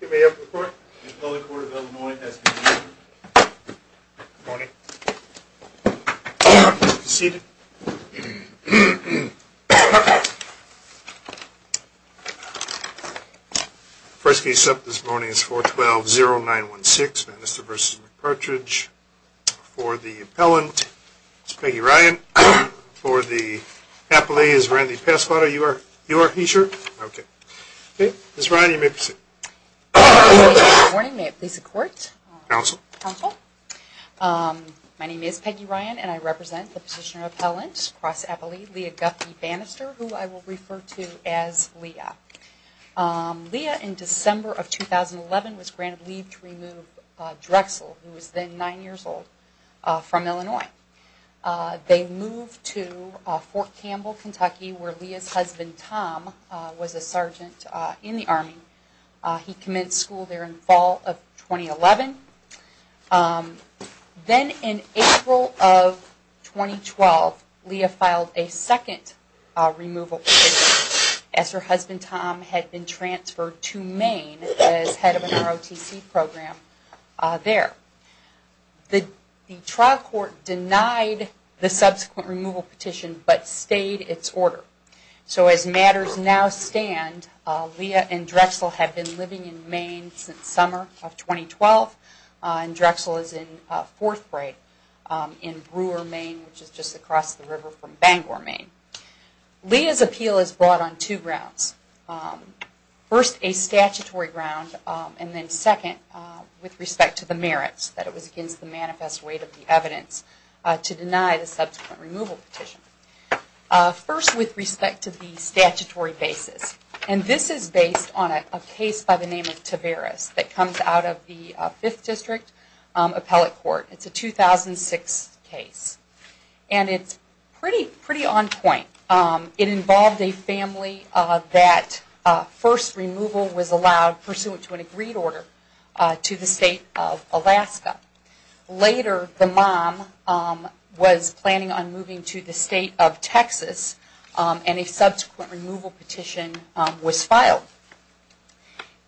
Give me a report. The appellate court of Illinois has been adjourned. Good morning. Please be seated. First case up this morning is 412-0916 Banister v. McPartridge. For the appellant is Peggy Ryan. For the appellate is Randy Pasquato. You are? You are? Are you sure? Okay. Ms. Ryan, you may proceed. Good morning. May it please the court? Counsel. My name is Peggy Ryan, and I represent the petitioner appellant across appellate, Leah Guffey Banister, who I will refer to as Leah. Leah, in December of 2011, was granted leave to remove Drexel, who was then nine years old, from Illinois. They moved to Fort Campbell, Kentucky, where Leah's husband, Tom, was a sergeant in the Army. He commenced school there in the fall of 2011. Then, in April of 2012, Leah filed a second removal petition, as her husband, Tom, had been transferred to Maine as head of an ROTC program there. The trial court denied the subsequent removal petition, but stayed its order. As matters now stand, Leah and Drexel have been living in Maine since summer of 2012, and Drexel is in fourth grade in Brewer, Maine, which is just across the river from Bangor, Maine. Leah's appeal is brought on two grounds. First, a statutory ground, and then second, with respect to the merits, that it was against the manifest weight of the evidence, to deny the subsequent removal petition. First, with respect to the statutory basis, and this is based on a case by the name of Taveras, that comes out of the Fifth District Appellate Court. It's a 2006 case, and it's pretty on point. It involved a family that first removal was allowed, pursuant to an agreed order, to the state of Alaska. Later, the mom was planning on moving to the state of Texas, and a subsequent removal petition was filed.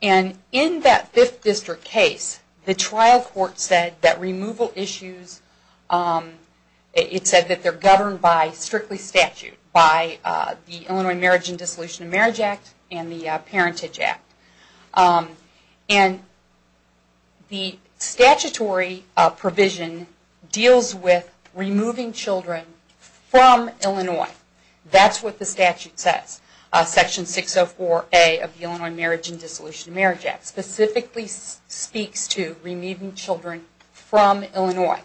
And in that Fifth District case, the trial court said that removal issues, it said that they're governed by strictly statute, by the Illinois Marriage and Dissolution of Marriage Act and the Parentage Act. And the statutory provision deals with removing children from Illinois. That's what the statute says. Section 604A of the Illinois Marriage and Dissolution of Marriage Act, specifically speaks to removing children from Illinois.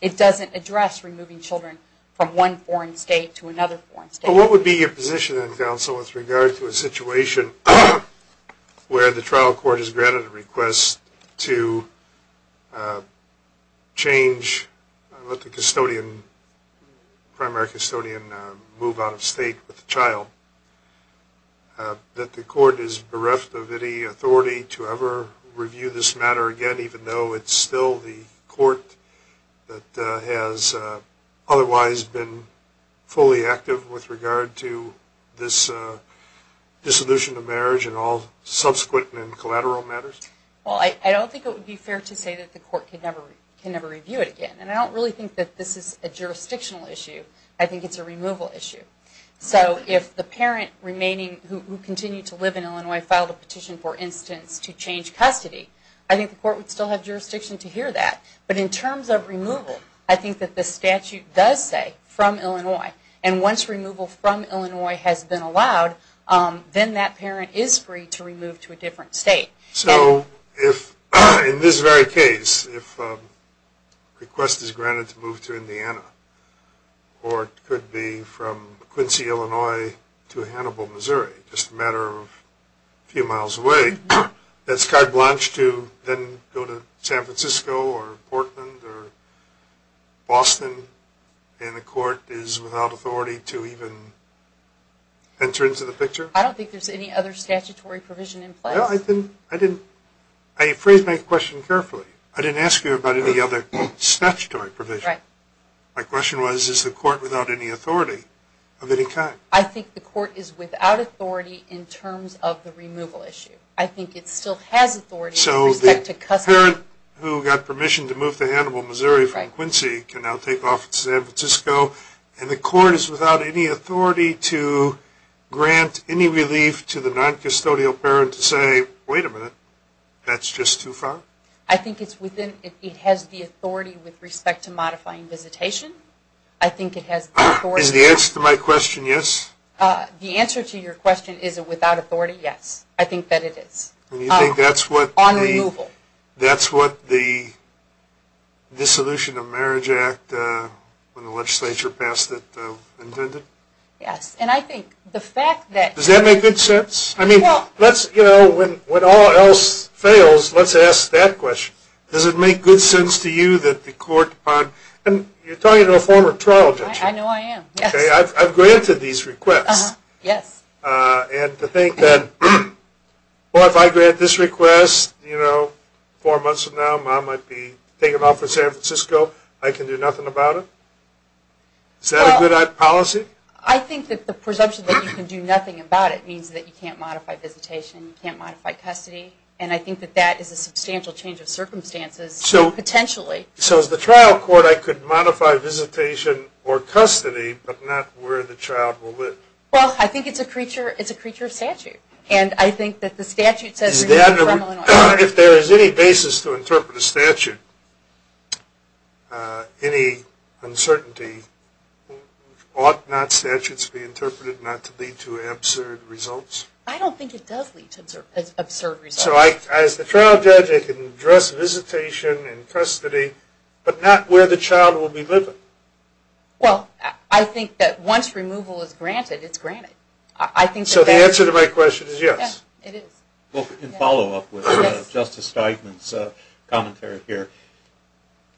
It doesn't address removing children from one foreign state to another foreign state. So what would be your position then, counsel, with regard to a situation where the trial court has granted a request to change, let the custodian, primary custodian move out of state with the child, that the court is bereft of any authority to ever review this matter again, even though it's still the court that has otherwise been fully active with regard to this dissolution of marriage and all subsequent and collateral matters? Well, I don't think it would be fair to say that the court can never review it again. And I don't really think that this is a jurisdictional issue. I think it's a removal issue. So if the parent remaining who continued to live in Illinois filed a petition, for instance, to change custody, I think the court would still have jurisdiction to hear that. But in terms of removal, I think that the statute does say, from Illinois, and once removal from Illinois has been allowed, then that parent is free to remove to a different state. So if, in this very case, if a request is granted to move to Indiana, or it could be from Quincy, Illinois to Hannibal, Missouri, just a matter of a few miles away, that's carte blanche to then go to San Francisco or Portland or Boston, and the court is without authority to even enter into the picture? I don't think there's any other statutory provision in place. No, I didn't. I phrased my question carefully. I didn't ask you about any other statutory provision. Right. My question was, is the court without any authority of any kind? I think the court is without authority in terms of the removal issue. I think it still has authority with respect to custody. So the parent who got permission to move to Hannibal, Missouri from Quincy can now take San Francisco, and the court is without any authority to grant any relief to the non-custodial parent to say, wait a minute, that's just too far? I think it has the authority with respect to modifying visitation. Is the answer to my question yes? The answer to your question, is it without authority, yes. I think that it is. On removal. That's what the Dissolution of Marriage Act, when the legislature passed it, intended? Yes. Does that make good sense? When all else fails, let's ask that question. Does it make good sense to you that the court, and you're talking to a former trial judge. I know I am. I've granted these requests. Yes. And to think that, well, if I grant this request, four months from now, mom might be taken off of San Francisco, I can do nothing about it? Is that a good policy? I think that the presumption that you can do nothing about it means that you can't modify visitation, you can't modify custody. And I think that that is a substantial change of circumstances, potentially. So as the trial court, I could modify visitation or custody, but not where the child will live? Well, I think it's a creature of statute. And I think that the statute says... If there is any basis to interpret a statute, any uncertainty, ought not statutes be interpreted not to lead to absurd results? I don't think it does lead to absurd results. So as the trial judge, I can address visitation and custody, but not where the child will be living? Well, I think that once removal is granted, it's granted. So the answer to my question is yes. Yes, it is. In follow-up with Justice Steigman's commentary here,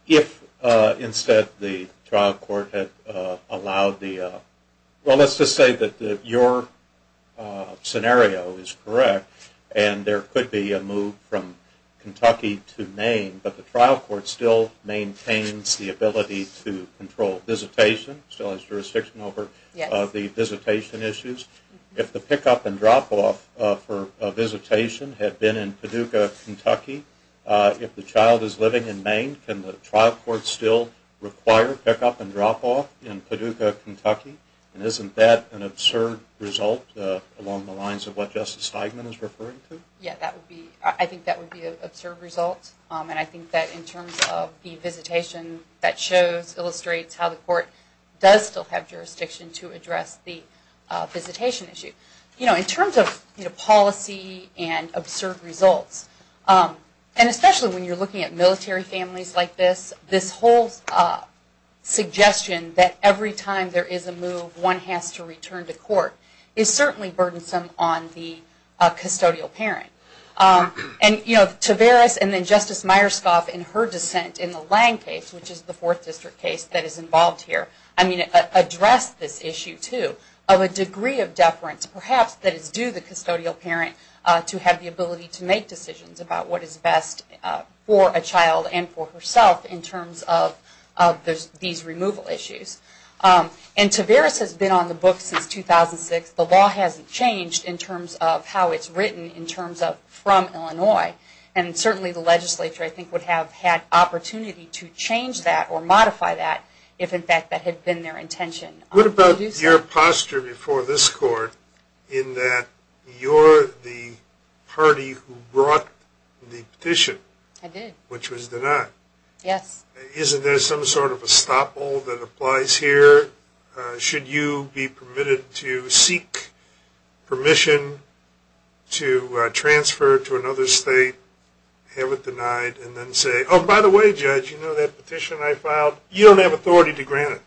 if instead the trial court had allowed the... Well, let's just say that your scenario is correct, and there could be a move from Kentucky to Maine, but the trial court still maintains the ability to control visitation, still has jurisdiction over the visitation issues. If the pick-up and drop-off for a visitation had been in Paducah, Kentucky, if the child is living in Maine, can the trial court still require pick-up and drop-off in Paducah, Kentucky? And isn't that an absurd result along the lines of what Justice Steigman is referring to? Yeah, I think that would be an absurd result. And I think that in terms of the visitation, that illustrates how the court does still have jurisdiction to address the visitation issue. In terms of policy and absurd results, and especially when you're looking at military families like this, this whole suggestion that every time there is a move, one has to return to court is certainly burdensome on the custodial parent. And, you know, Taveras and then Justice Myerscough in her dissent in the Lang case, which is the Fourth District case that is involved here, I mean, addressed this issue too, of a degree of deference, perhaps, that is due the custodial parent to have the ability to make decisions about what is best for a child and for herself in terms of these removal issues. And Taveras has been on the books since 2006. The law hasn't changed in terms of how it's written in terms of from Illinois. And certainly the legislature, I think, would have had opportunity to change that or modify that if, in fact, that had been their intention. What about your posture before this court in that you're the party who brought the petition? I did. Which was denied. Yes. Isn't there some sort of estoppel that applies here? Should you be permitted to seek permission to transfer to another state, have it denied, and then say, oh, by the way, Judge, you know that petition I filed? You don't have authority to grant it.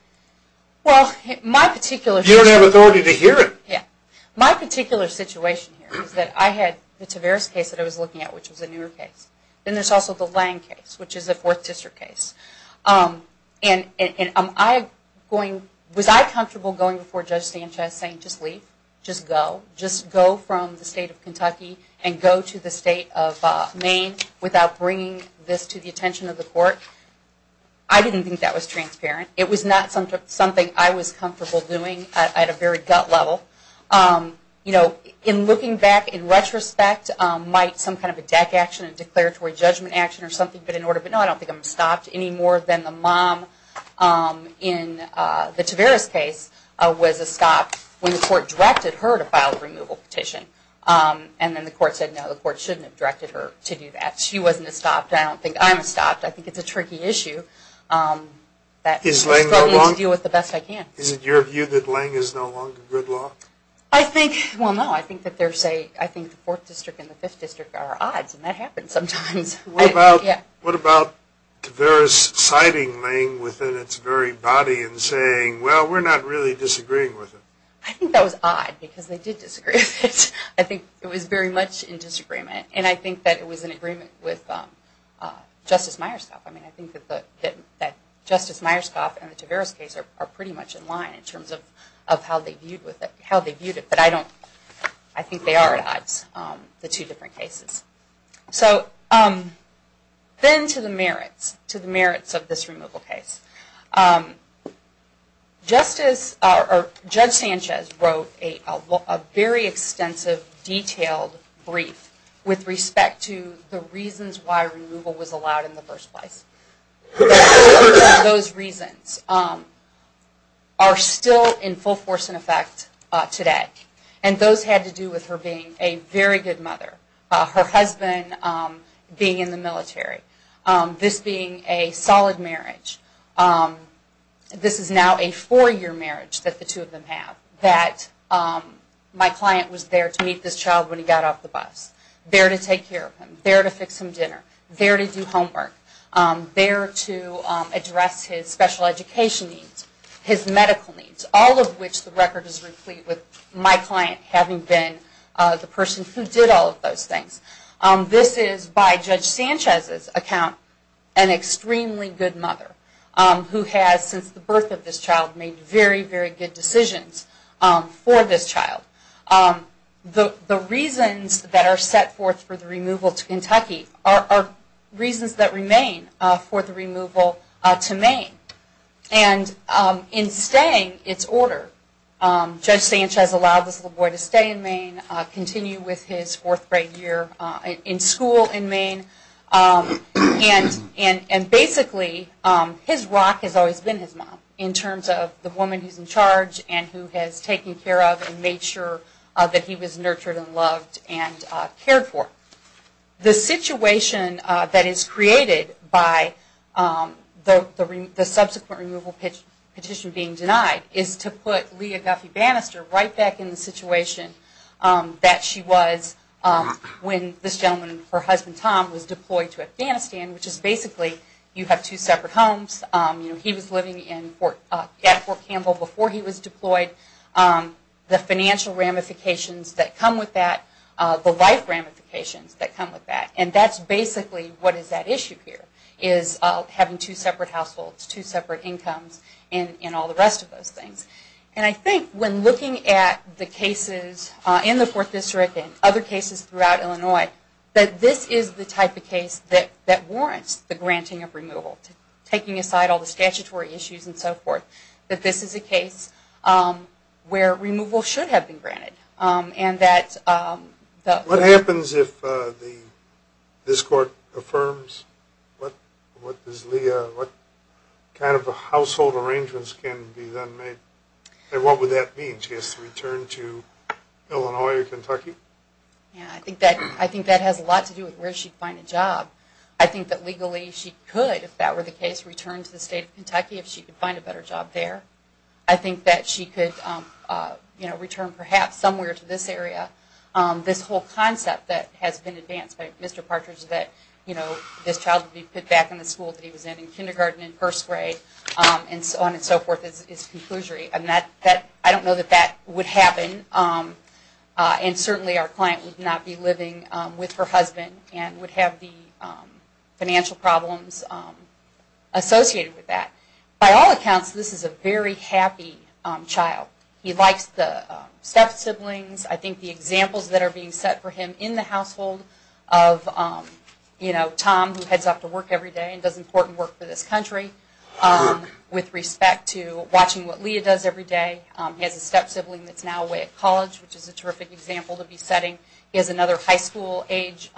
Well, my particular... You don't have authority to hear it. Yes. My particular situation here is that I had the Taveras case that I was looking at, which was a newer case. Then there's also the Lange case, which is a Fourth District case. And was I comfortable going before Judge Sanchez saying, just leave, just go, just go from the state of Kentucky and go to the state of Maine without bringing this to the attention of the court? I didn't think that was transparent. It was not something I was comfortable doing at a very gut level. You know, in looking back, in retrospect, might some kind of a deck action, a declaratory judgment action or something have been in order. But no, I don't think I'm stopped any more than the mom in the Taveras case was stopped when the court directed her to file a removal petition. And then the court said, no, the court shouldn't have directed her to do that. She wasn't stopped. I don't think I'm stopped. I think it's a tricky issue. Is Lange no longer good law? Is it your view that Lange is no longer good law? I think, well, no, I think that there's a, I think the Fourth District and the Fifth District are odds, and that happens sometimes. What about Taveras citing Lange within its very body and saying, well, we're not really disagreeing with it? I think that was odd because they did disagree with it. I think it was very much in disagreement. And I think that it was in agreement with Justice Myerscough. I mean, I think that Justice Myerscough and the Taveras case are pretty much in line in terms of how they viewed it. But I don't, I think they are at odds, the two different cases. So then to the merits, to the merits of this removal case. Justice, or Judge Sanchez wrote a very extensive, detailed brief with respect to the reasons why removal was allowed in the first place. Those reasons are still in full force and effect today. And those had to do with her being a very good mother, her husband being in the military, this being a solid marriage. This is now a four-year marriage that the two of them have, that my client was there to meet this child when he got off the bus, there to take care of him, there to fix him dinner, there to do homework, there to address his special education needs, his medical needs, all of which the record is complete with my client having been the person who did all of those things. This is, by Judge Sanchez's account, an extremely good mother who has, since the birth of this child, made very, very good decisions for this child. The reasons that are set forth for the removal to Kentucky are reasons that remain for the removal to Maine. And in staying, it's order. Judge Sanchez allowed this little boy to stay in Maine, continue with his fourth grade year in school in Maine, and basically his rock has always been his mom in terms of the woman who's in charge and who has taken care of and made sure that he was nurtured and loved and cared for. The situation that is created by the subsequent removal petition being denied is to put Leah Guffey Bannister right back in the situation that she was when this gentleman, her husband Tom, was deployed to Afghanistan, which is basically you have two separate homes. He was living at Fort Campbell before he was deployed. The financial ramifications that come with that, the life ramifications that come with that, and that's basically what is at issue here, is having two separate households, two separate incomes, and all the rest of those things. And I think when looking at the cases in the Fourth District and other cases throughout Illinois, that this is the type of case that warrants the granting of removal, taking aside all the statutory issues and so forth, that this is a case where removal should have been granted. What happens if this court affirms what kind of household arrangements can be made? What would that mean? She has to return to Illinois or Kentucky? I think that has a lot to do with where she'd find a job. I think that legally she could, if that were the case, return to the state of Kentucky if she could find a better job there. I think that she could return perhaps somewhere to this area. This whole concept that has been advanced by Mr. Partridge that this child would be put back in the school that he was in in kindergarten and first grade and so on and so forth is conclusory. I don't know that that would happen, and certainly our client would not be living with her husband and would have the financial problems associated with that. By all accounts, this is a very happy child. He likes the step-siblings. I think the examples that are being set for him in the household of Tom, who heads off to work every day and does important work for this country, with respect to watching what Leah does every day. He has a step-sibling that's now away at college, which is a terrific example to be setting. He has another high school age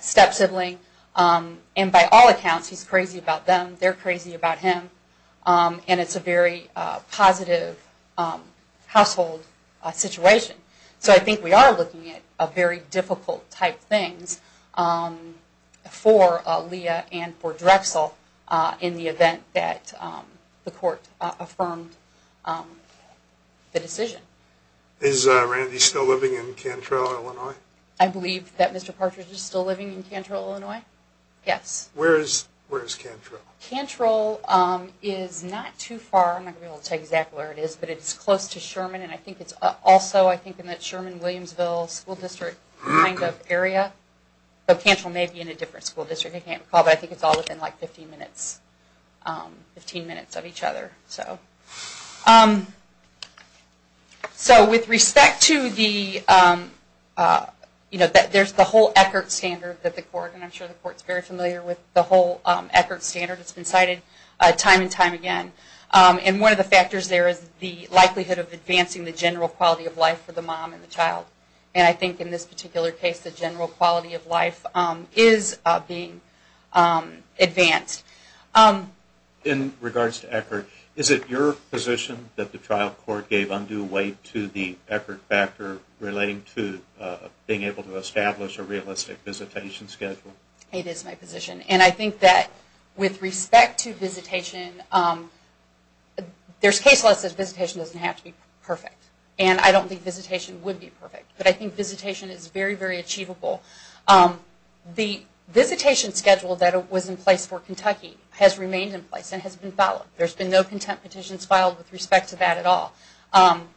step-sibling. By all accounts, he's crazy about them, they're crazy about him, and it's a very positive household situation. So I think we are looking at very difficult type things for Leah and for Drexel in the event that the court affirmed the decision. Is Randy still living in Cantrell, Illinois? I believe that Mr. Partridge is still living in Cantrell, Illinois. Yes. Where is Cantrell? Cantrell is not too far. I'm not going to be able to tell you exactly where it is, but it's close to Sherman, and I think it's also in that Sherman-Williamsville school district kind of area. But Cantrell may be in a different school district. I can't recall, but I think it's all within 15 minutes of each other. So with respect to the whole Eckert standard that the court, and I'm sure the court is very familiar with the whole Eckert standard, it's been cited time and time again, and one of the factors there is the likelihood of advancing the general quality of life for the mom and the child. And I think in this particular case the general quality of life is being advanced. In regards to Eckert, is it your position that the trial court gave undue weight to the Eckert factor relating to being able to establish a realistic visitation schedule? It is my position. And I think that with respect to visitation, there's case law that says visitation doesn't have to be perfect, and I don't think visitation would be perfect. But I think visitation is very, very achievable. The visitation schedule that was in place for Kentucky has remained in place and has been followed. There's been no content petitions filed with respect to that at all,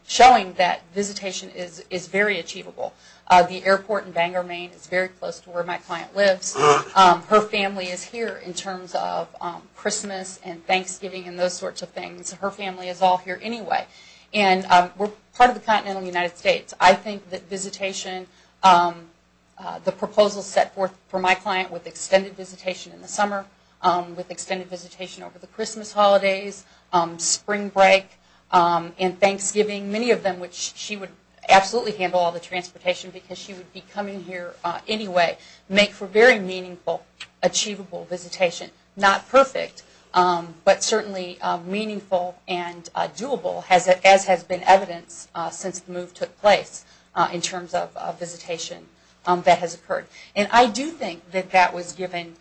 showing that visitation is very achievable. The airport in Bangor, Maine is very close to where my client lives. Her family is here in terms of Christmas and Thanksgiving and those sorts of things. Her family is all here anyway. And we're part of the continental United States. I think that visitation, the proposal set forth for my client with extended visitation in the summer, with extended visitation over the Christmas holidays, spring break, and Thanksgiving, many of them which she would absolutely handle all the transportation because she would be coming here anyway, make for very meaningful, achievable visitation. Not perfect, but certainly meaningful and doable, as has been evidenced since the move took place in terms of visitation that has occurred. And I do think that that was given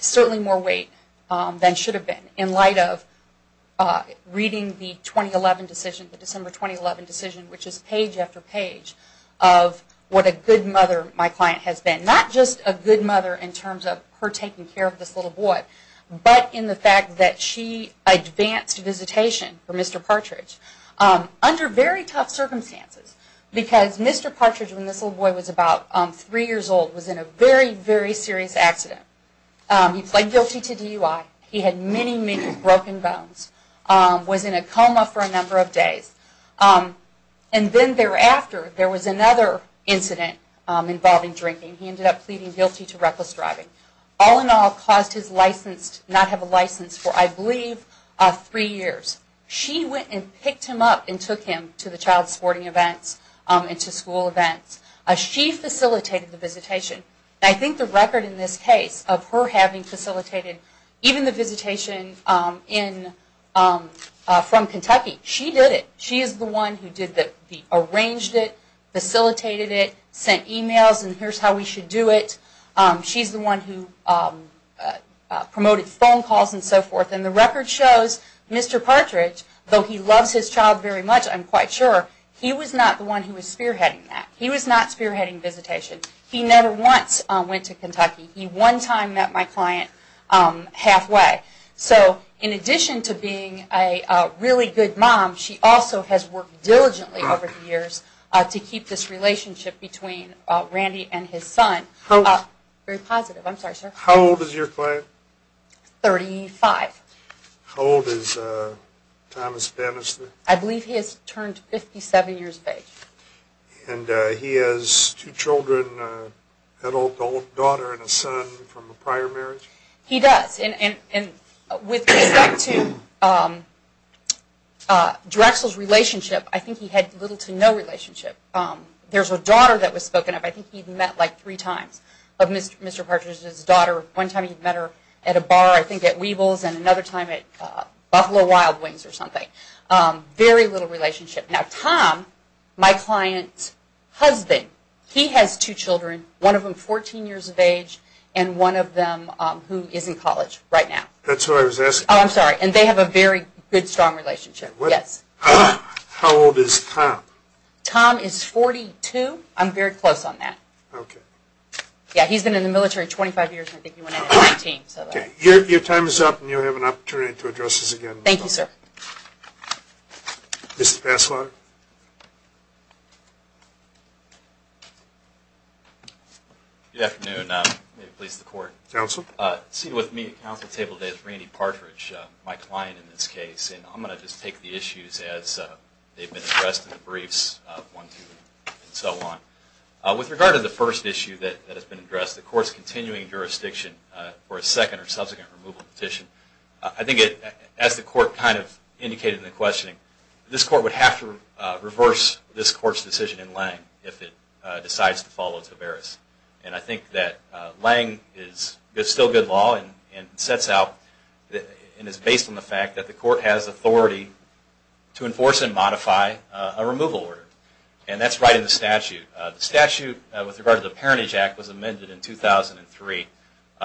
certainly more weight than should have been in light of reading the 2011 decision, the December 2011 decision, which is page after page of what a good mother my client has been. Not just a good mother in terms of her taking care of this little boy, but in the fact that she advanced visitation for Mr. Partridge under very tough circumstances. Because Mr. Partridge, when this little boy was about three years old, was in a very, very serious accident. He pled guilty to DUI. He had many, many broken bones. Was in a coma for a number of days. And then thereafter, there was another incident involving drinking. He ended up pleading guilty to reckless driving. All in all, caused his license to not have a license for, I believe, three years. She went and picked him up and took him to the child sporting events and to school events. She facilitated the visitation. And I think the record in this case of her having facilitated even the visitation from Kentucky, she did it. She is the one who arranged it, facilitated it, sent emails, and here's how we should do it. She's the one who promoted phone calls and so forth. And the record shows Mr. Partridge, though he loves his child very much, I'm quite sure, he was not the one who was spearheading that. He was not spearheading visitation. He never once went to Kentucky. He one time met my client halfway. So in addition to being a really good mom, she also has worked diligently over the years to keep this relationship between Randy and his son very positive. I'm sorry, sir. How old is your client? Thirty-five. How old is Thomas Bannister? I believe he has turned 57 years of age. And he has two children, an adult daughter and a son from a prior marriage? He does. And with respect to Drexel's relationship, I think he had little to no relationship. There's a daughter that was spoken of. I think he met like three times of Mr. Partridge's daughter. One time he met her at a bar, I think at Weebles, and another time at Buffalo Wild Wings or something. Very little relationship. Now Tom, my client's husband, he has two children, one of them 14 years of age, and one of them who is in college right now. That's who I was asking. Oh, I'm sorry. And they have a very good, strong relationship, yes. How old is Tom? Tom is 42. I'm very close on that. Okay. Yeah, he's been in the military 25 years, and I think he went in at 19. Okay. Your time is up, and you'll have an opportunity to address this again. Thank you, sir. Mr. Passlaw. Good afternoon. May it please the Court. Counsel. Seated with me at counsel's table today is Randy Partridge, my client in this case. And I'm going to just take the issues as they've been addressed in the briefs, one, two, and so on. With regard to the first issue that has been addressed, the Court's continuing jurisdiction for a second or subsequent removal petition, I think as the Court kind of indicated in the questioning, this Court would have to reverse this Court's decision in Lange if it decides to follow Tavares. And I think that Lange is still good law and sets out and is based on the fact that the Court has authority to enforce and modify a removal order. And that's right in the statute. The statute with regard to the Parentage Act was amended in 2003.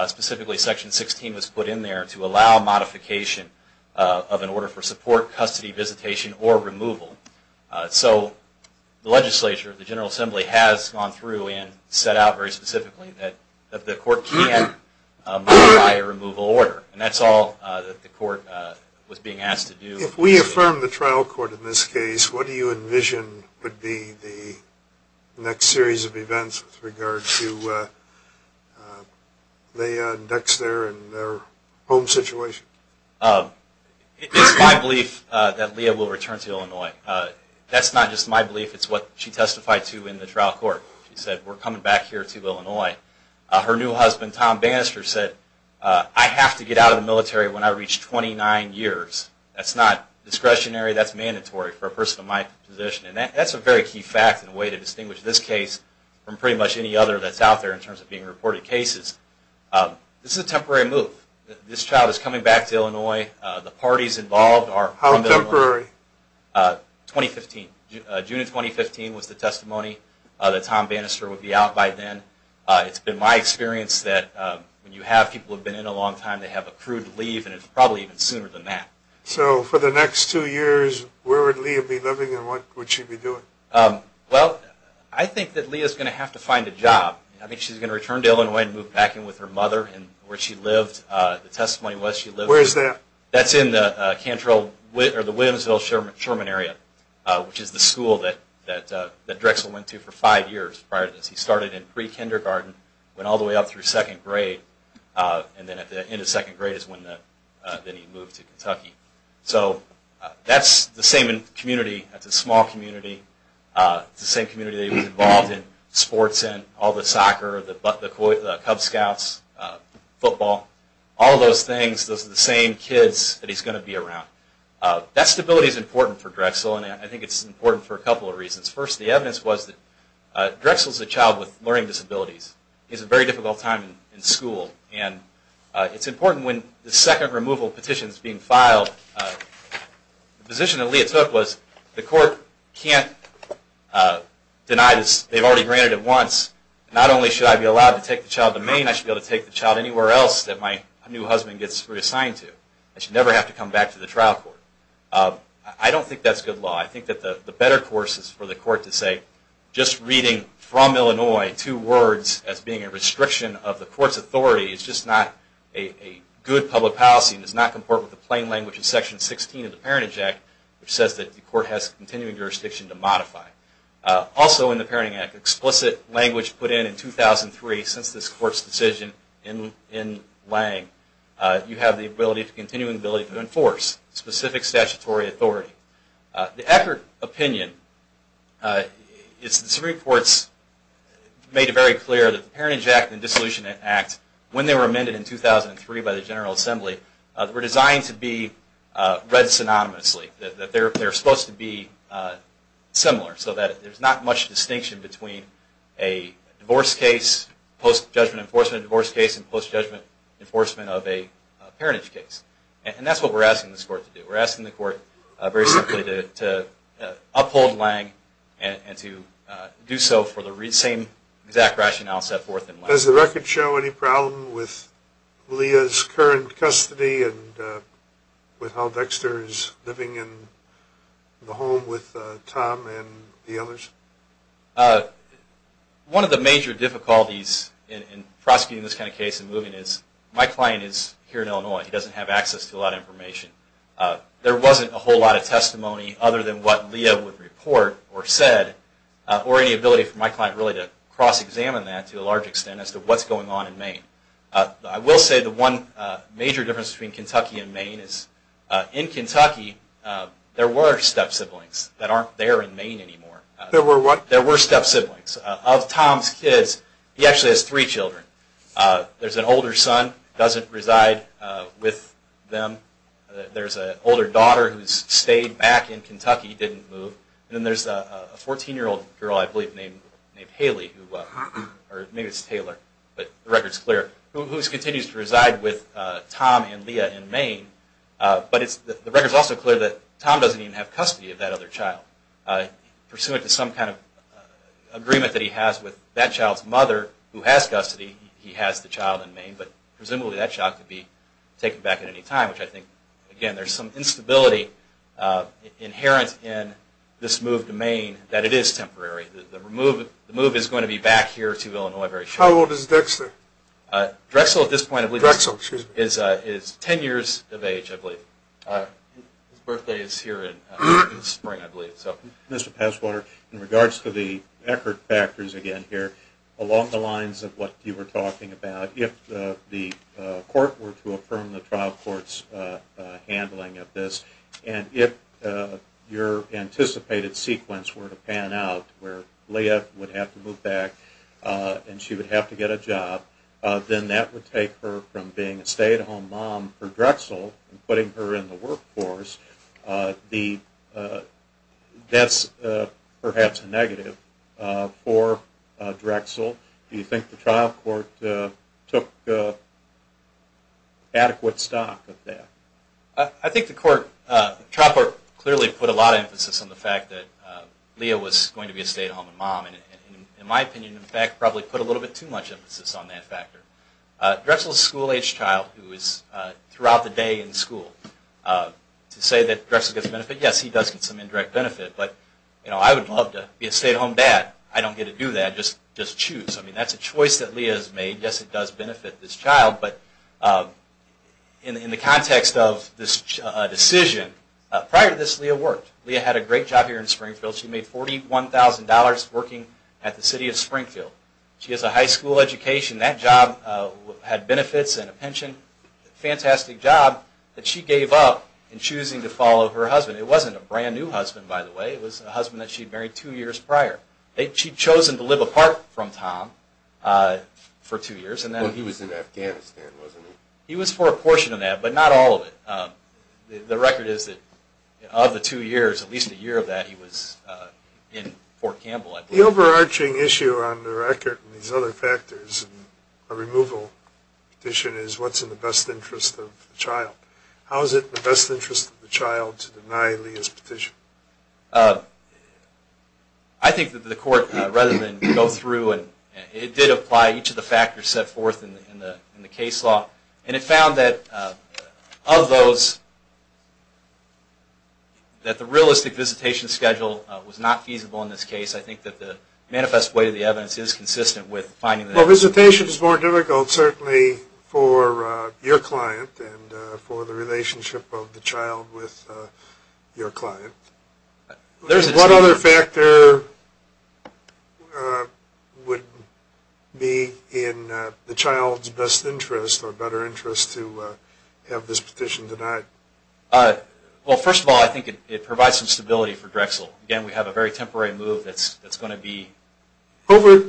Specifically, Section 16 was put in there to allow modification of an order for support, custody, visitation, or removal. So the legislature, the General Assembly, has gone through and set out very specifically that the Court can modify a removal order. And that's all that the Court was being asked to do. If we affirm the trial court in this case, what do you envision would be the next series of events with regard to Leah Dexter and her home situation? It's my belief that Leah will return to Illinois. That's not just my belief. It's what she testified to in the trial court. She said, we're coming back here to Illinois. Her new husband, Tom Bannister, said, I have to get out of the military when I reach 29 years. That's not discretionary. That's mandatory for a person of my position. And that's a very key fact and a way to distinguish this case from pretty much any other that's out there in terms of being reported cases. This is a temporary move. This child is coming back to Illinois. The parties involved are from Illinois. How temporary? 2015. June of 2015 was the testimony. Tom Bannister would be out by then. It's been my experience that when you have people who have been in a long time, they have a crude leave, and it's probably even sooner than that. So for the next two years, where would Leah be living and what would she be doing? Well, I think that Leah is going to have to find a job. I think she's going to return to Illinois and move back in with her mother where she lived, the testimony was she lived. Where is that? That's in the Williamsville-Sherman area, which is the school that Drexel went to for five years prior to this. He started in pre-kindergarten, went all the way up through second grade, and then at the end of second grade is when he moved to Kentucky. So that's the same community. That's a small community. It's the same community that he was involved in sports in, all the soccer, the Cub Scouts, football, all those things. Those are the same kids that he's going to be around. That stability is important for Drexel, and I think it's important for a couple of reasons. First, the evidence was that Drexel is a child with learning disabilities. He has a very difficult time in school, and it's important when the second removal petition is being filed, the position that Leah took was the court can't deny this. They've already granted it once. Not only should I be allowed to take the child to Maine, I should be able to take the child anywhere else that my new husband gets reassigned to. I should never have to come back to the trial court. I don't think that's good law. I think that the better course is for the court to say just reading from Illinois two words as being a restriction of the court's authority is just not a good public policy and does not comport with the plain language of Section 16 of the Parentage Act, which says that the court has continuing jurisdiction to modify. Also in the Parenting Act, explicit language put in in 2003, since this court's decision in Lange, you have the continuing ability to enforce specific statutory authority. The Eckert opinion, it's the Supreme Court's, made it very clear that the Parentage Act and the Dissolution Act, when they were amended in 2003 by the General Assembly, were designed to be read synonymously, that they're supposed to be similar, so that there's not much distinction between a divorce case, post-judgment enforcement of a divorce case, and post-judgment enforcement of a parentage case. And that's what we're asking this court to do. We're asking the court very simply to uphold Lange and to do so for the same exact rationale set forth in Lange. Does the record show any problem with Leah's current custody and with how Dexter is living in the home with Tom and the others? One of the major difficulties in prosecuting this kind of case in moving is, my client is here in Illinois. He doesn't have access to a lot of information. There wasn't a whole lot of testimony other than what Leah would report or said, or any ability for my client really to cross-examine that to a large extent as to what's going on in Maine. I will say the one major difference between Kentucky and Maine is, in Kentucky, there were step-siblings that aren't there in Maine anymore. There were what? There were step-siblings. Of Tom's kids, he actually has three children. There's an older son who doesn't reside with them. There's an older daughter who's stayed back in Kentucky, didn't move. And then there's a 14-year-old girl, I believe, named Haley, or maybe it's Taylor, but the record's clear, who continues to reside with Tom and Leah in Maine. But the record's also clear that Tom doesn't even have custody of that other child. Pursuant to some kind of agreement that he has with that child's mother, who has custody, he has the child in Maine, but presumably that child could be taken back at any time, which I think, again, there's some instability inherent in this move to Maine that it is temporary. The move is going to be back here to Illinois very shortly. How old is Dexter? Drexel, at this point, is 10 years of age, I believe. His birthday is here in the spring, I believe. Mr. Passwater, in regards to the Eckert factors again here, along the lines of what you were talking about, if the court were to affirm the trial court's handling of this and if your anticipated sequence were to pan out where Leah would have to move back and she would have to get a job, then that would take her from being a stay-at-home mom for Drexel and putting her in the workforce. That's perhaps a negative for Drexel. Do you think the trial court took adequate stock of that? I think the trial court clearly put a lot of emphasis on the fact that Leah was going to be a stay-at-home mom and, in my opinion, in fact, probably put a little bit too much emphasis on that factor. Drexel is a school-aged child who is throughout the day in school. To say that Drexel gets benefit, yes, he does get some indirect benefit, but I would love to be a stay-at-home dad. I don't get to do that, just choose. That's a choice that Leah has made. Yes, it does benefit this child, but in the context of this decision, prior to this, Leah worked. Leah had a great job here in Springfield. She made $41,000 working at the city of Springfield. She has a high school education. That job had benefits and a pension. Fantastic job that she gave up in choosing to follow her husband. It wasn't a brand-new husband, by the way. It was a husband that she had married two years prior. She had chosen to live apart from Tom for two years. He was in Afghanistan, wasn't he? He was for a portion of that, but not all of it. The record is that of the two years, at least a year of that, he was in Fort Campbell. The overarching issue on the record and these other factors in a removal petition is what's in the best interest of the child. How is it in the best interest of the child to deny Leah's petition? I think that the court, rather than go through, it did apply each of the factors set forth in the case law, and it found that of those, that the realistic visitation schedule was not feasible in this case. I think that the manifest way of the evidence is consistent with finding that. Well, visitation is more difficult, certainly, for your client and for the relationship of the child with your client. What other factor would be in the child's best interest or better interest to have this petition denied? Well, first of all, I think it provides some stability for Drexel. Again, we have a very temporary move that's going to be... Over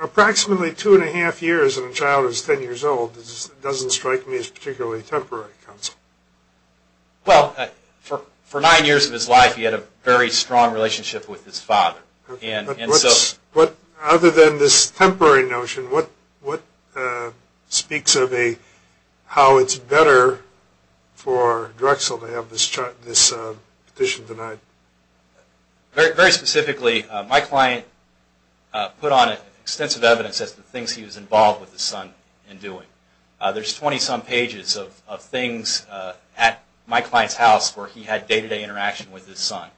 approximately two and a half years in a child who's ten years old, it doesn't strike me as particularly temporary, counsel. Well, for nine years of his life, he had a very strong relationship with his father. Other than this temporary notion, what speaks of how it's better for Drexel to have this petition denied? Very specifically, my client put on extensive evidence as to the things he was involved with his son in doing. There's 20-some pages of things at my client's house where he had day-to-day interaction with his son,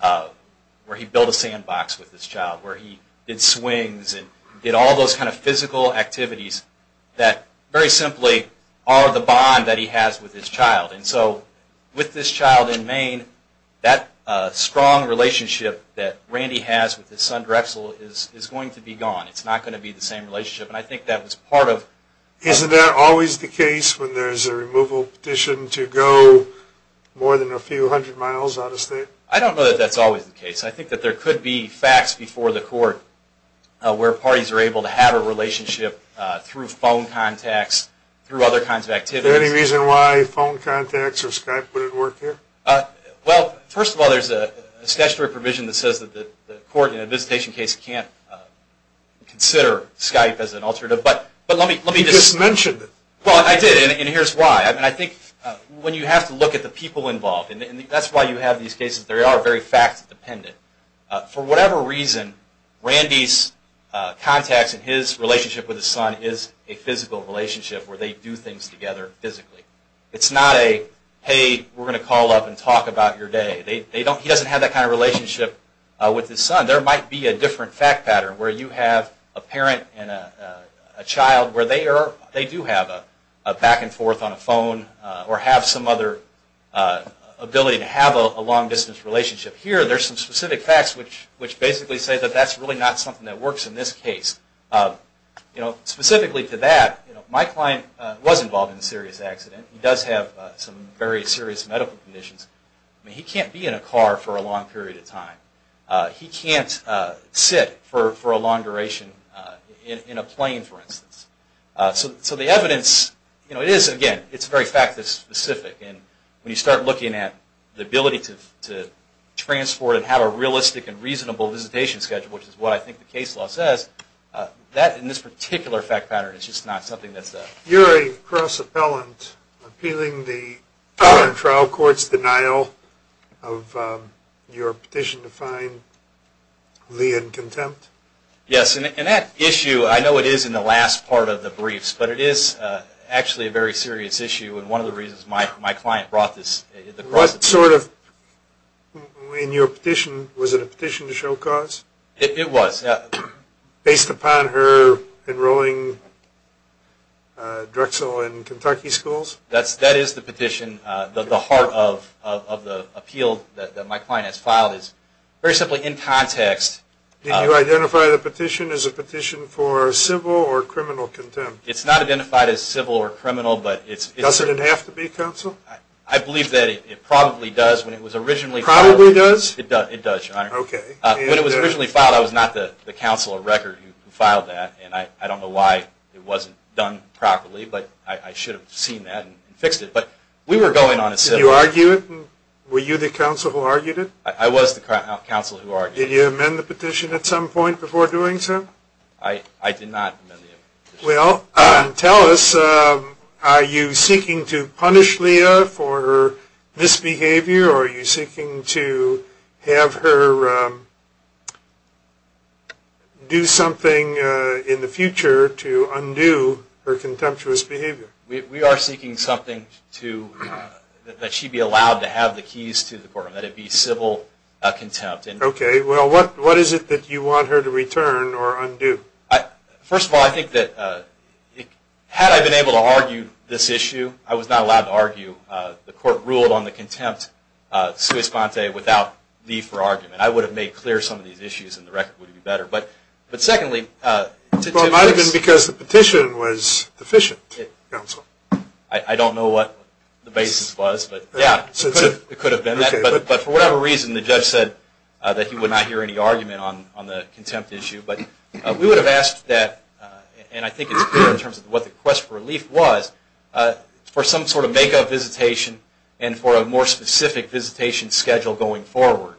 where he built a sandbox with his child, where he did swings and did all those kind of physical activities that very simply are the bond that he has with his child. And so with this child in Maine, that strong relationship that Randy has with his son Drexel is going to be gone. It's not going to be the same relationship. And I think that was part of... Isn't that always the case when there's a removal petition to go more than a few hundred miles out of state? I don't know that that's always the case. I think that there could be facts before the court where parties are able to have a relationship through phone contacts, through other kinds of activities. Is there any reason why phone contacts or Skype wouldn't work here? Well, first of all, there's a statutory provision that says that the court in a visitation case can't consider Skype as an alternative. But let me just... You just mentioned it. Well, I did, and here's why. I think when you have to look at the people involved, and that's why you have these cases. They are very fact-dependent. For whatever reason, Randy's contacts and his relationship with his son is a physical relationship where they do things together physically. It's not a, hey, we're going to call up and talk about your day. He doesn't have that kind of relationship with his son. There might be a different fact pattern where you have a parent and a child where they do have a back-and-forth on a phone or have some other ability to have a long-distance relationship. Here, there's some specific facts which basically say that that's really not something that works in this case. Specifically to that, my client was involved in a serious accident. He does have some very serious medical conditions. He can't be in a car for a long period of time. He can't sit for a long duration in a plane, for instance. So the evidence, again, it's very fact-specific. When you start looking at the ability to transport and have a realistic and reasonable visitation schedule, which is what I think the case law says, that in this particular fact pattern is just not something that's... You're a cross-appellant appealing the trial court's denial of your petition to find Lee in contempt? Yes. And that issue, I know it is in the last part of the briefs, but it is actually a very serious issue and one of the reasons my client brought this... Was it a petition to show cause? It was. Based upon her enrolling Drexel in Kentucky schools? That is the petition. The heart of the appeal that my client has filed is very simply in context... Did you identify the petition as a petition for civil or criminal contempt? It's not identified as civil or criminal, but it's... Does it have to be, counsel? I believe that it probably does. Probably does? It does, Your Honor. Okay. When it was originally filed, I was not the counsel of record who filed that, and I don't know why it wasn't done properly, but I should have seen that and fixed it. But we were going on a civil... Did you argue it? Were you the counsel who argued it? I was the counsel who argued it. Did you amend the petition at some point before doing so? I did not amend the petition. Well, tell us, are you seeking to punish Leah for her misbehavior or are you seeking to have her do something in the future to undo her contemptuous behavior? We are seeking something that she be allowed to have the keys to the courtroom, that it be civil contempt. Okay. Well, what is it that you want her to return or undo? First of all, I think that had I been able to argue this issue, I was not allowed to argue the court rule on the contempt, sui sponte, without Leah for argument. I would have made clear some of these issues and the record would be better. But secondly... Well, it might have been because the petition was deficient, counsel. I don't know what the basis was, but, yeah, it could have been that. But for whatever reason, the judge said that he would not hear any argument on the contempt issue. But we would have asked that, and I think it's clear in terms of what the quest for relief was, for some sort of make-up visitation and for a more specific visitation schedule going forward.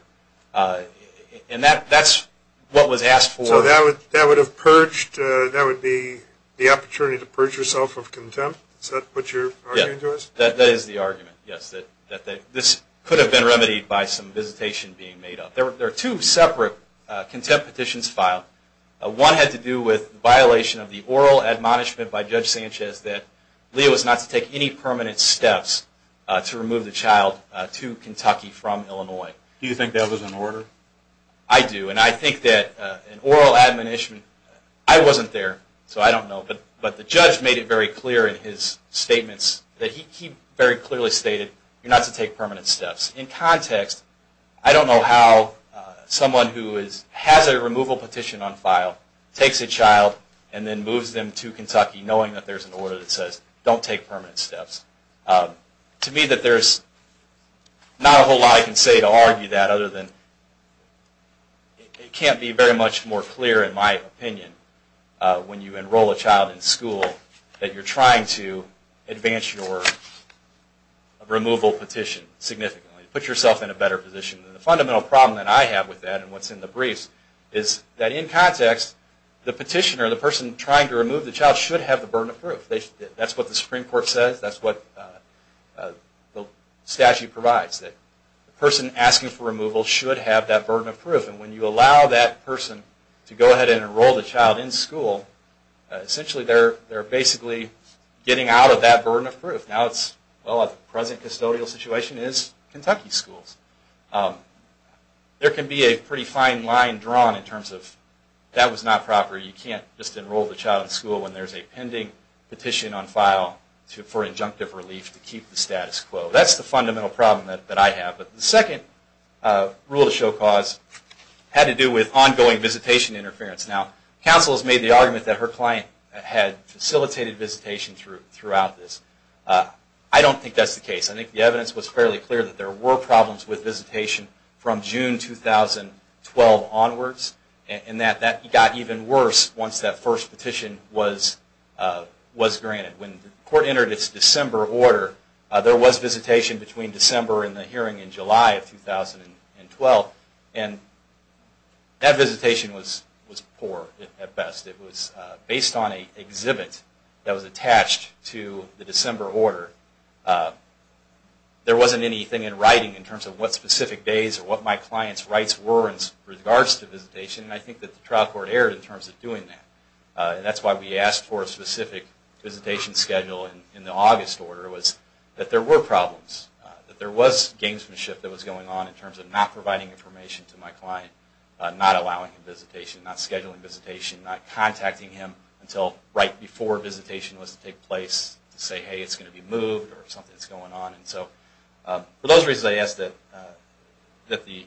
And that's what was asked for. So that would have purged, that would be the opportunity to purge yourself of contempt? Is that what you're arguing to us? That is the argument, yes. This could have been remedied by some visitation being made up. There are two separate contempt petitions filed. One had to do with the violation of the oral admonishment by Judge Sanchez that Leah was not to take any permanent steps to remove the child to Kentucky from Illinois. Do you think that was an order? I do, and I think that an oral admonishment... I wasn't there, so I don't know, but the judge made it very clear in his statements that he very clearly stated you're not to take permanent steps. In context, I don't know how someone who has a removal petition on file takes a child and then moves them to Kentucky knowing that there's an order that says, don't take permanent steps. To me, there's not a whole lot I can say to argue that other than it can't be very much more clear, in my opinion, when you enroll a child in school that you're trying to advance your removal petition significantly, put yourself in a better position. The fundamental problem that I have with that, and what's in the briefs, is that in context, the petitioner, the person trying to remove the child, should have the burden of proof. That's what the Supreme Court says, that's what the statute provides, that the person asking for removal should have that burden of proof. And when you allow that person to go ahead and enroll the child in school, essentially they're basically getting out of that burden of proof. Now the present custodial situation is Kentucky schools. There can be a pretty fine line drawn in terms of, that was not proper, you can't just enroll the child in school when there's a pending petition on file for injunctive relief to keep the status quo. That's the fundamental problem that I have. The second rule to show cause had to do with ongoing visitation interference. Now, counsel has made the argument that her client had facilitated visitation throughout this. I don't think that's the case. I think the evidence was fairly clear that there were problems with visitation from June 2012 onwards, and that got even worse once that first petition was granted. When the court entered its December order, there was visitation between December and the hearing in July of 2012, and that visitation was poor at best. It was based on an exhibit that was attached to the December order. There wasn't anything in writing in terms of what specific days or what my client's rights were in regards to visitation, and I think that the trial court erred in terms of doing that. That's why we asked for a specific visitation schedule in the August order, was that there were problems, that there was gamesmanship that was going on in terms of not providing information to my client, not allowing visitation, not scheduling visitation, not contacting him until right before visitation was to take place to say, hey, it's going to be moved, or something's going on. And so for those reasons, I ask that the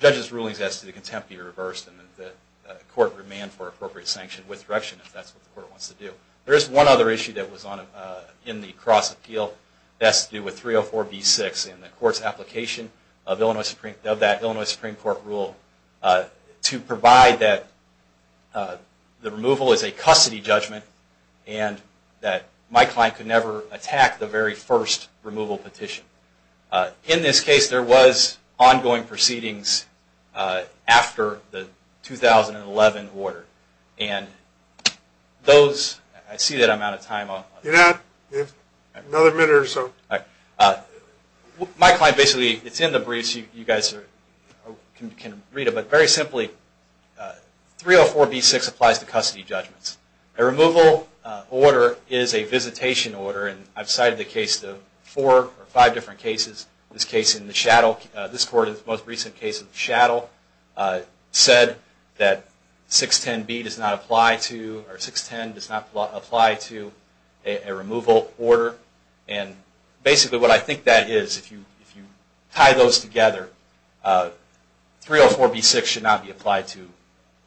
judge's rulings as to the contempt be reversed, and that the court remand for appropriate sanction with direction if that's what the court wants to do. There is one other issue that was in the cross-appeal that has to do with 304B6 in the court's application of that Illinois Supreme Court rule to provide that the removal is a custody judgment and that my client could never attack the very first removal petition. In this case, there was ongoing proceedings after the 2011 order. And those... I see that I'm out of time. You're not? Another minute or so. My client basically, it's in the briefs, you guys can read it, but very simply, 304B6 applies to custody judgments. A removal order is a visitation order, and I've cited the case of four or five different cases. This case in the Chattel, this court is the most recent case in the Chattel, said that 610B does not apply to, or 610 does not apply to a removal order. And basically what I think that is, if you tie those together, 304B6 should not be applied to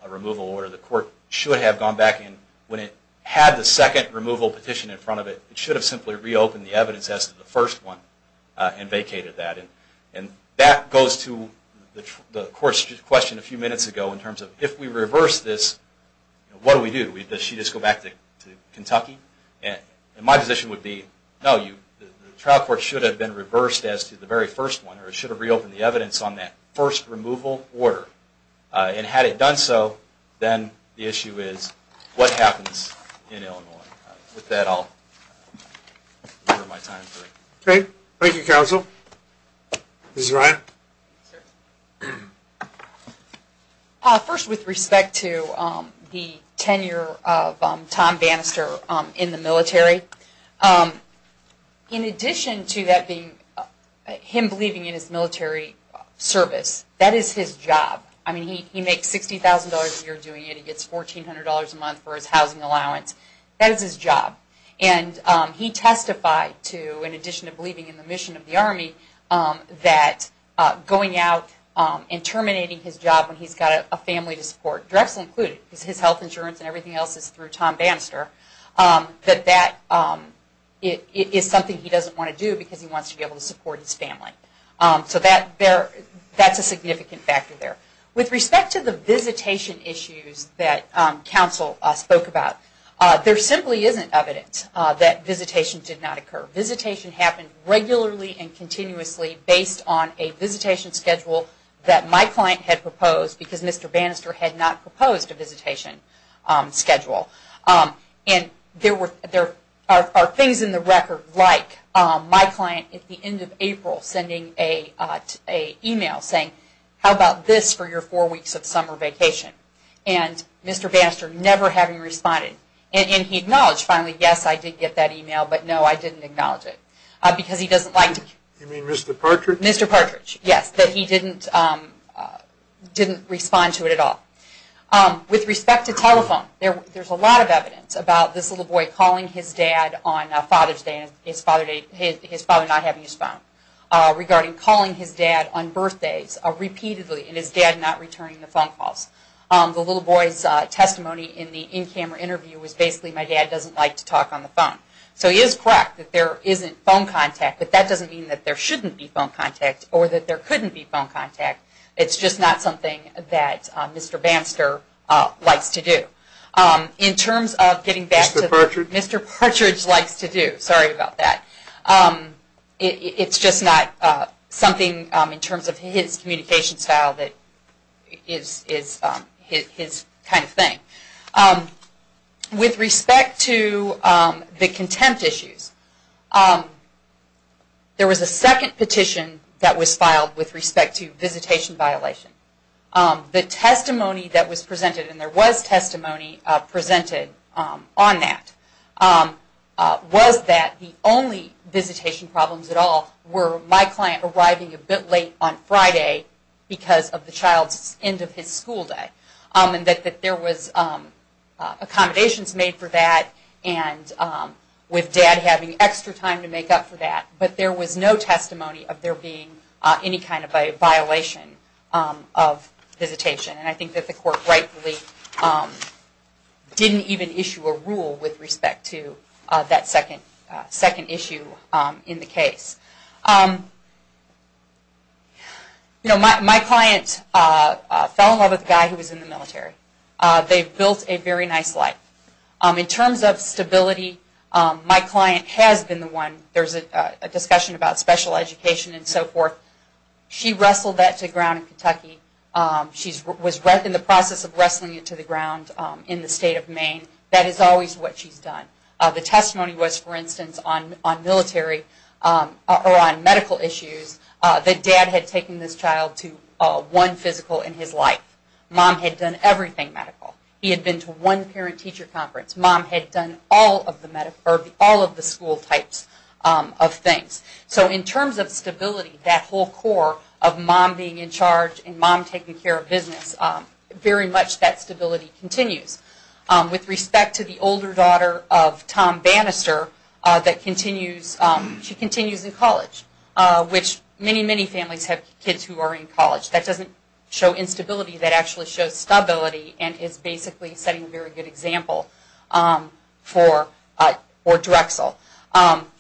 a removal order. The court should have gone back and when it had the second removal petition in front of it, it should have simply reopened the evidence as to the first one and vacated that. And that goes to the court's question a few minutes ago in terms of, if we reverse this, what do we do? Does she just go back to Kentucky? And my position would be, no, the trial court should have been reversed as to the very first one, or it should have reopened the evidence on that first removal order. And had it done so, then the issue is, what happens in Illinois? With that, I'll... Okay. Thank you, counsel. Ms. Ryan. First, with respect to the tenure of Tom Bannister in the military, in addition to him believing in his military service, that is his job. I mean, he makes $60,000 a year doing it, he gets $1,400 a month for his housing allowance. That is his job. And he testified to, in addition to believing in the mission of the Army, that going out and terminating his job when he's got a family to support, Drexel included, because his health insurance and everything else is through Tom Bannister, that that is something he doesn't want to do because he wants to be able to support his family. So that's a significant factor there. With respect to the visitation issues that counsel spoke about, there simply isn't evidence that visitation did not occur. Visitation happened regularly and continuously based on a visitation schedule that my client had proposed because Mr. Bannister had not proposed a visitation schedule. And there are things in the record like my client, at the end of April, sending an email saying, how about this for your four weeks of summer vacation? And Mr. Bannister never having responded. And he acknowledged finally, yes, I did get that email, but no, I didn't acknowledge it. You mean Mr. Partridge? Mr. Partridge, yes, that he didn't respond to it at all. With respect to telephone, there's a lot of evidence about this little boy calling his dad on Father's Day and his father not having his phone, regarding calling his dad on birthdays repeatedly and his dad not returning the phone calls. The little boy's testimony in the in-camera interview was basically, my dad doesn't like to talk on the phone. So he is correct that there isn't phone contact, but that doesn't mean that there shouldn't be phone contact or that there couldn't be phone contact. It's just not something that Mr. Bannister likes to do. In terms of getting back to what Mr. Partridge likes to do, sorry about that. It's just not something in terms of his communication style that is his kind of thing. With respect to the contempt issues, there was a second petition that was filed with respect to visitation violation. The testimony that was presented, and there was testimony presented on that, was that the only visitation problems at all were my client arriving a bit late on Friday because of the child's end of his school day. And that there was accommodations made for that and with dad having extra time to make up for that. But there was no testimony of there being any kind of a violation of visitation. And I think that the court rightfully didn't even issue a rule with respect to that second issue in the case. My client fell in love with a guy who was in the military. They built a very nice life. In terms of stability, my client has been the one. There's a discussion about special education and so forth. She wrestled that to the ground in Kentucky. She was in the process of wrestling it to the ground in the state of Maine. That is always what she's done. The testimony was, for instance, on military or on medical issues, that dad had taken this child to one physical in his life. Mom had done everything medical. He had been to one parent-teacher conference. Mom had done all of the school types of things. So in terms of stability, that whole core of mom being in charge and mom taking care of business, very much that stability continues. With respect to the older daughter of Tom Bannister, she continues in college, which many, many families have kids who are in college. That doesn't show instability. That actually shows stability and is basically setting a very good example for Drexel.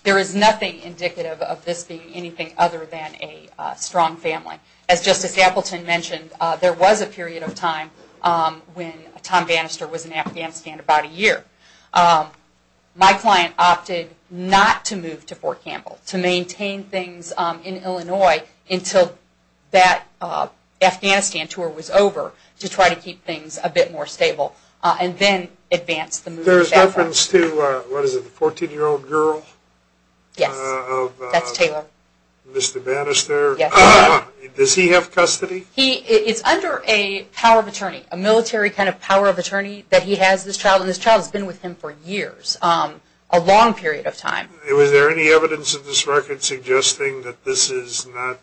There is nothing indicative of this being anything other than a strong family. As Justice Appleton mentioned, there was a period of time when Tom Bannister was in Afghanistan, about a year. My client opted not to move to Fort Campbell, to maintain things in Illinois until that Afghanistan tour was over, to try to keep things a bit more stable, and then advance the move. There is reference to, what is it, the 14-year-old girl? Yes. That's Taylor. Mr. Bannister. Yes. Does he have custody? He is under a power of attorney, a military kind of power of attorney that he has this child, and this child has been with him for years, a long period of time. Was there any evidence in this record suggesting that this is not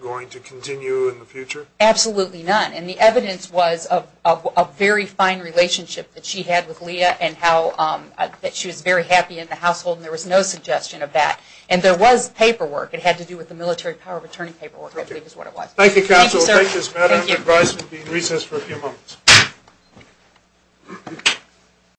going to continue in the future? Absolutely not. And the evidence was of a very fine relationship that she had with Leah, and that she was very happy in the household, and there was no suggestion of that. And there was paperwork. It had to do with the military power of attorney paperwork, I believe is what it was. Thank you, Counsel. Thank you, sir. We'll take this matter under advisement and be in recess for a few moments.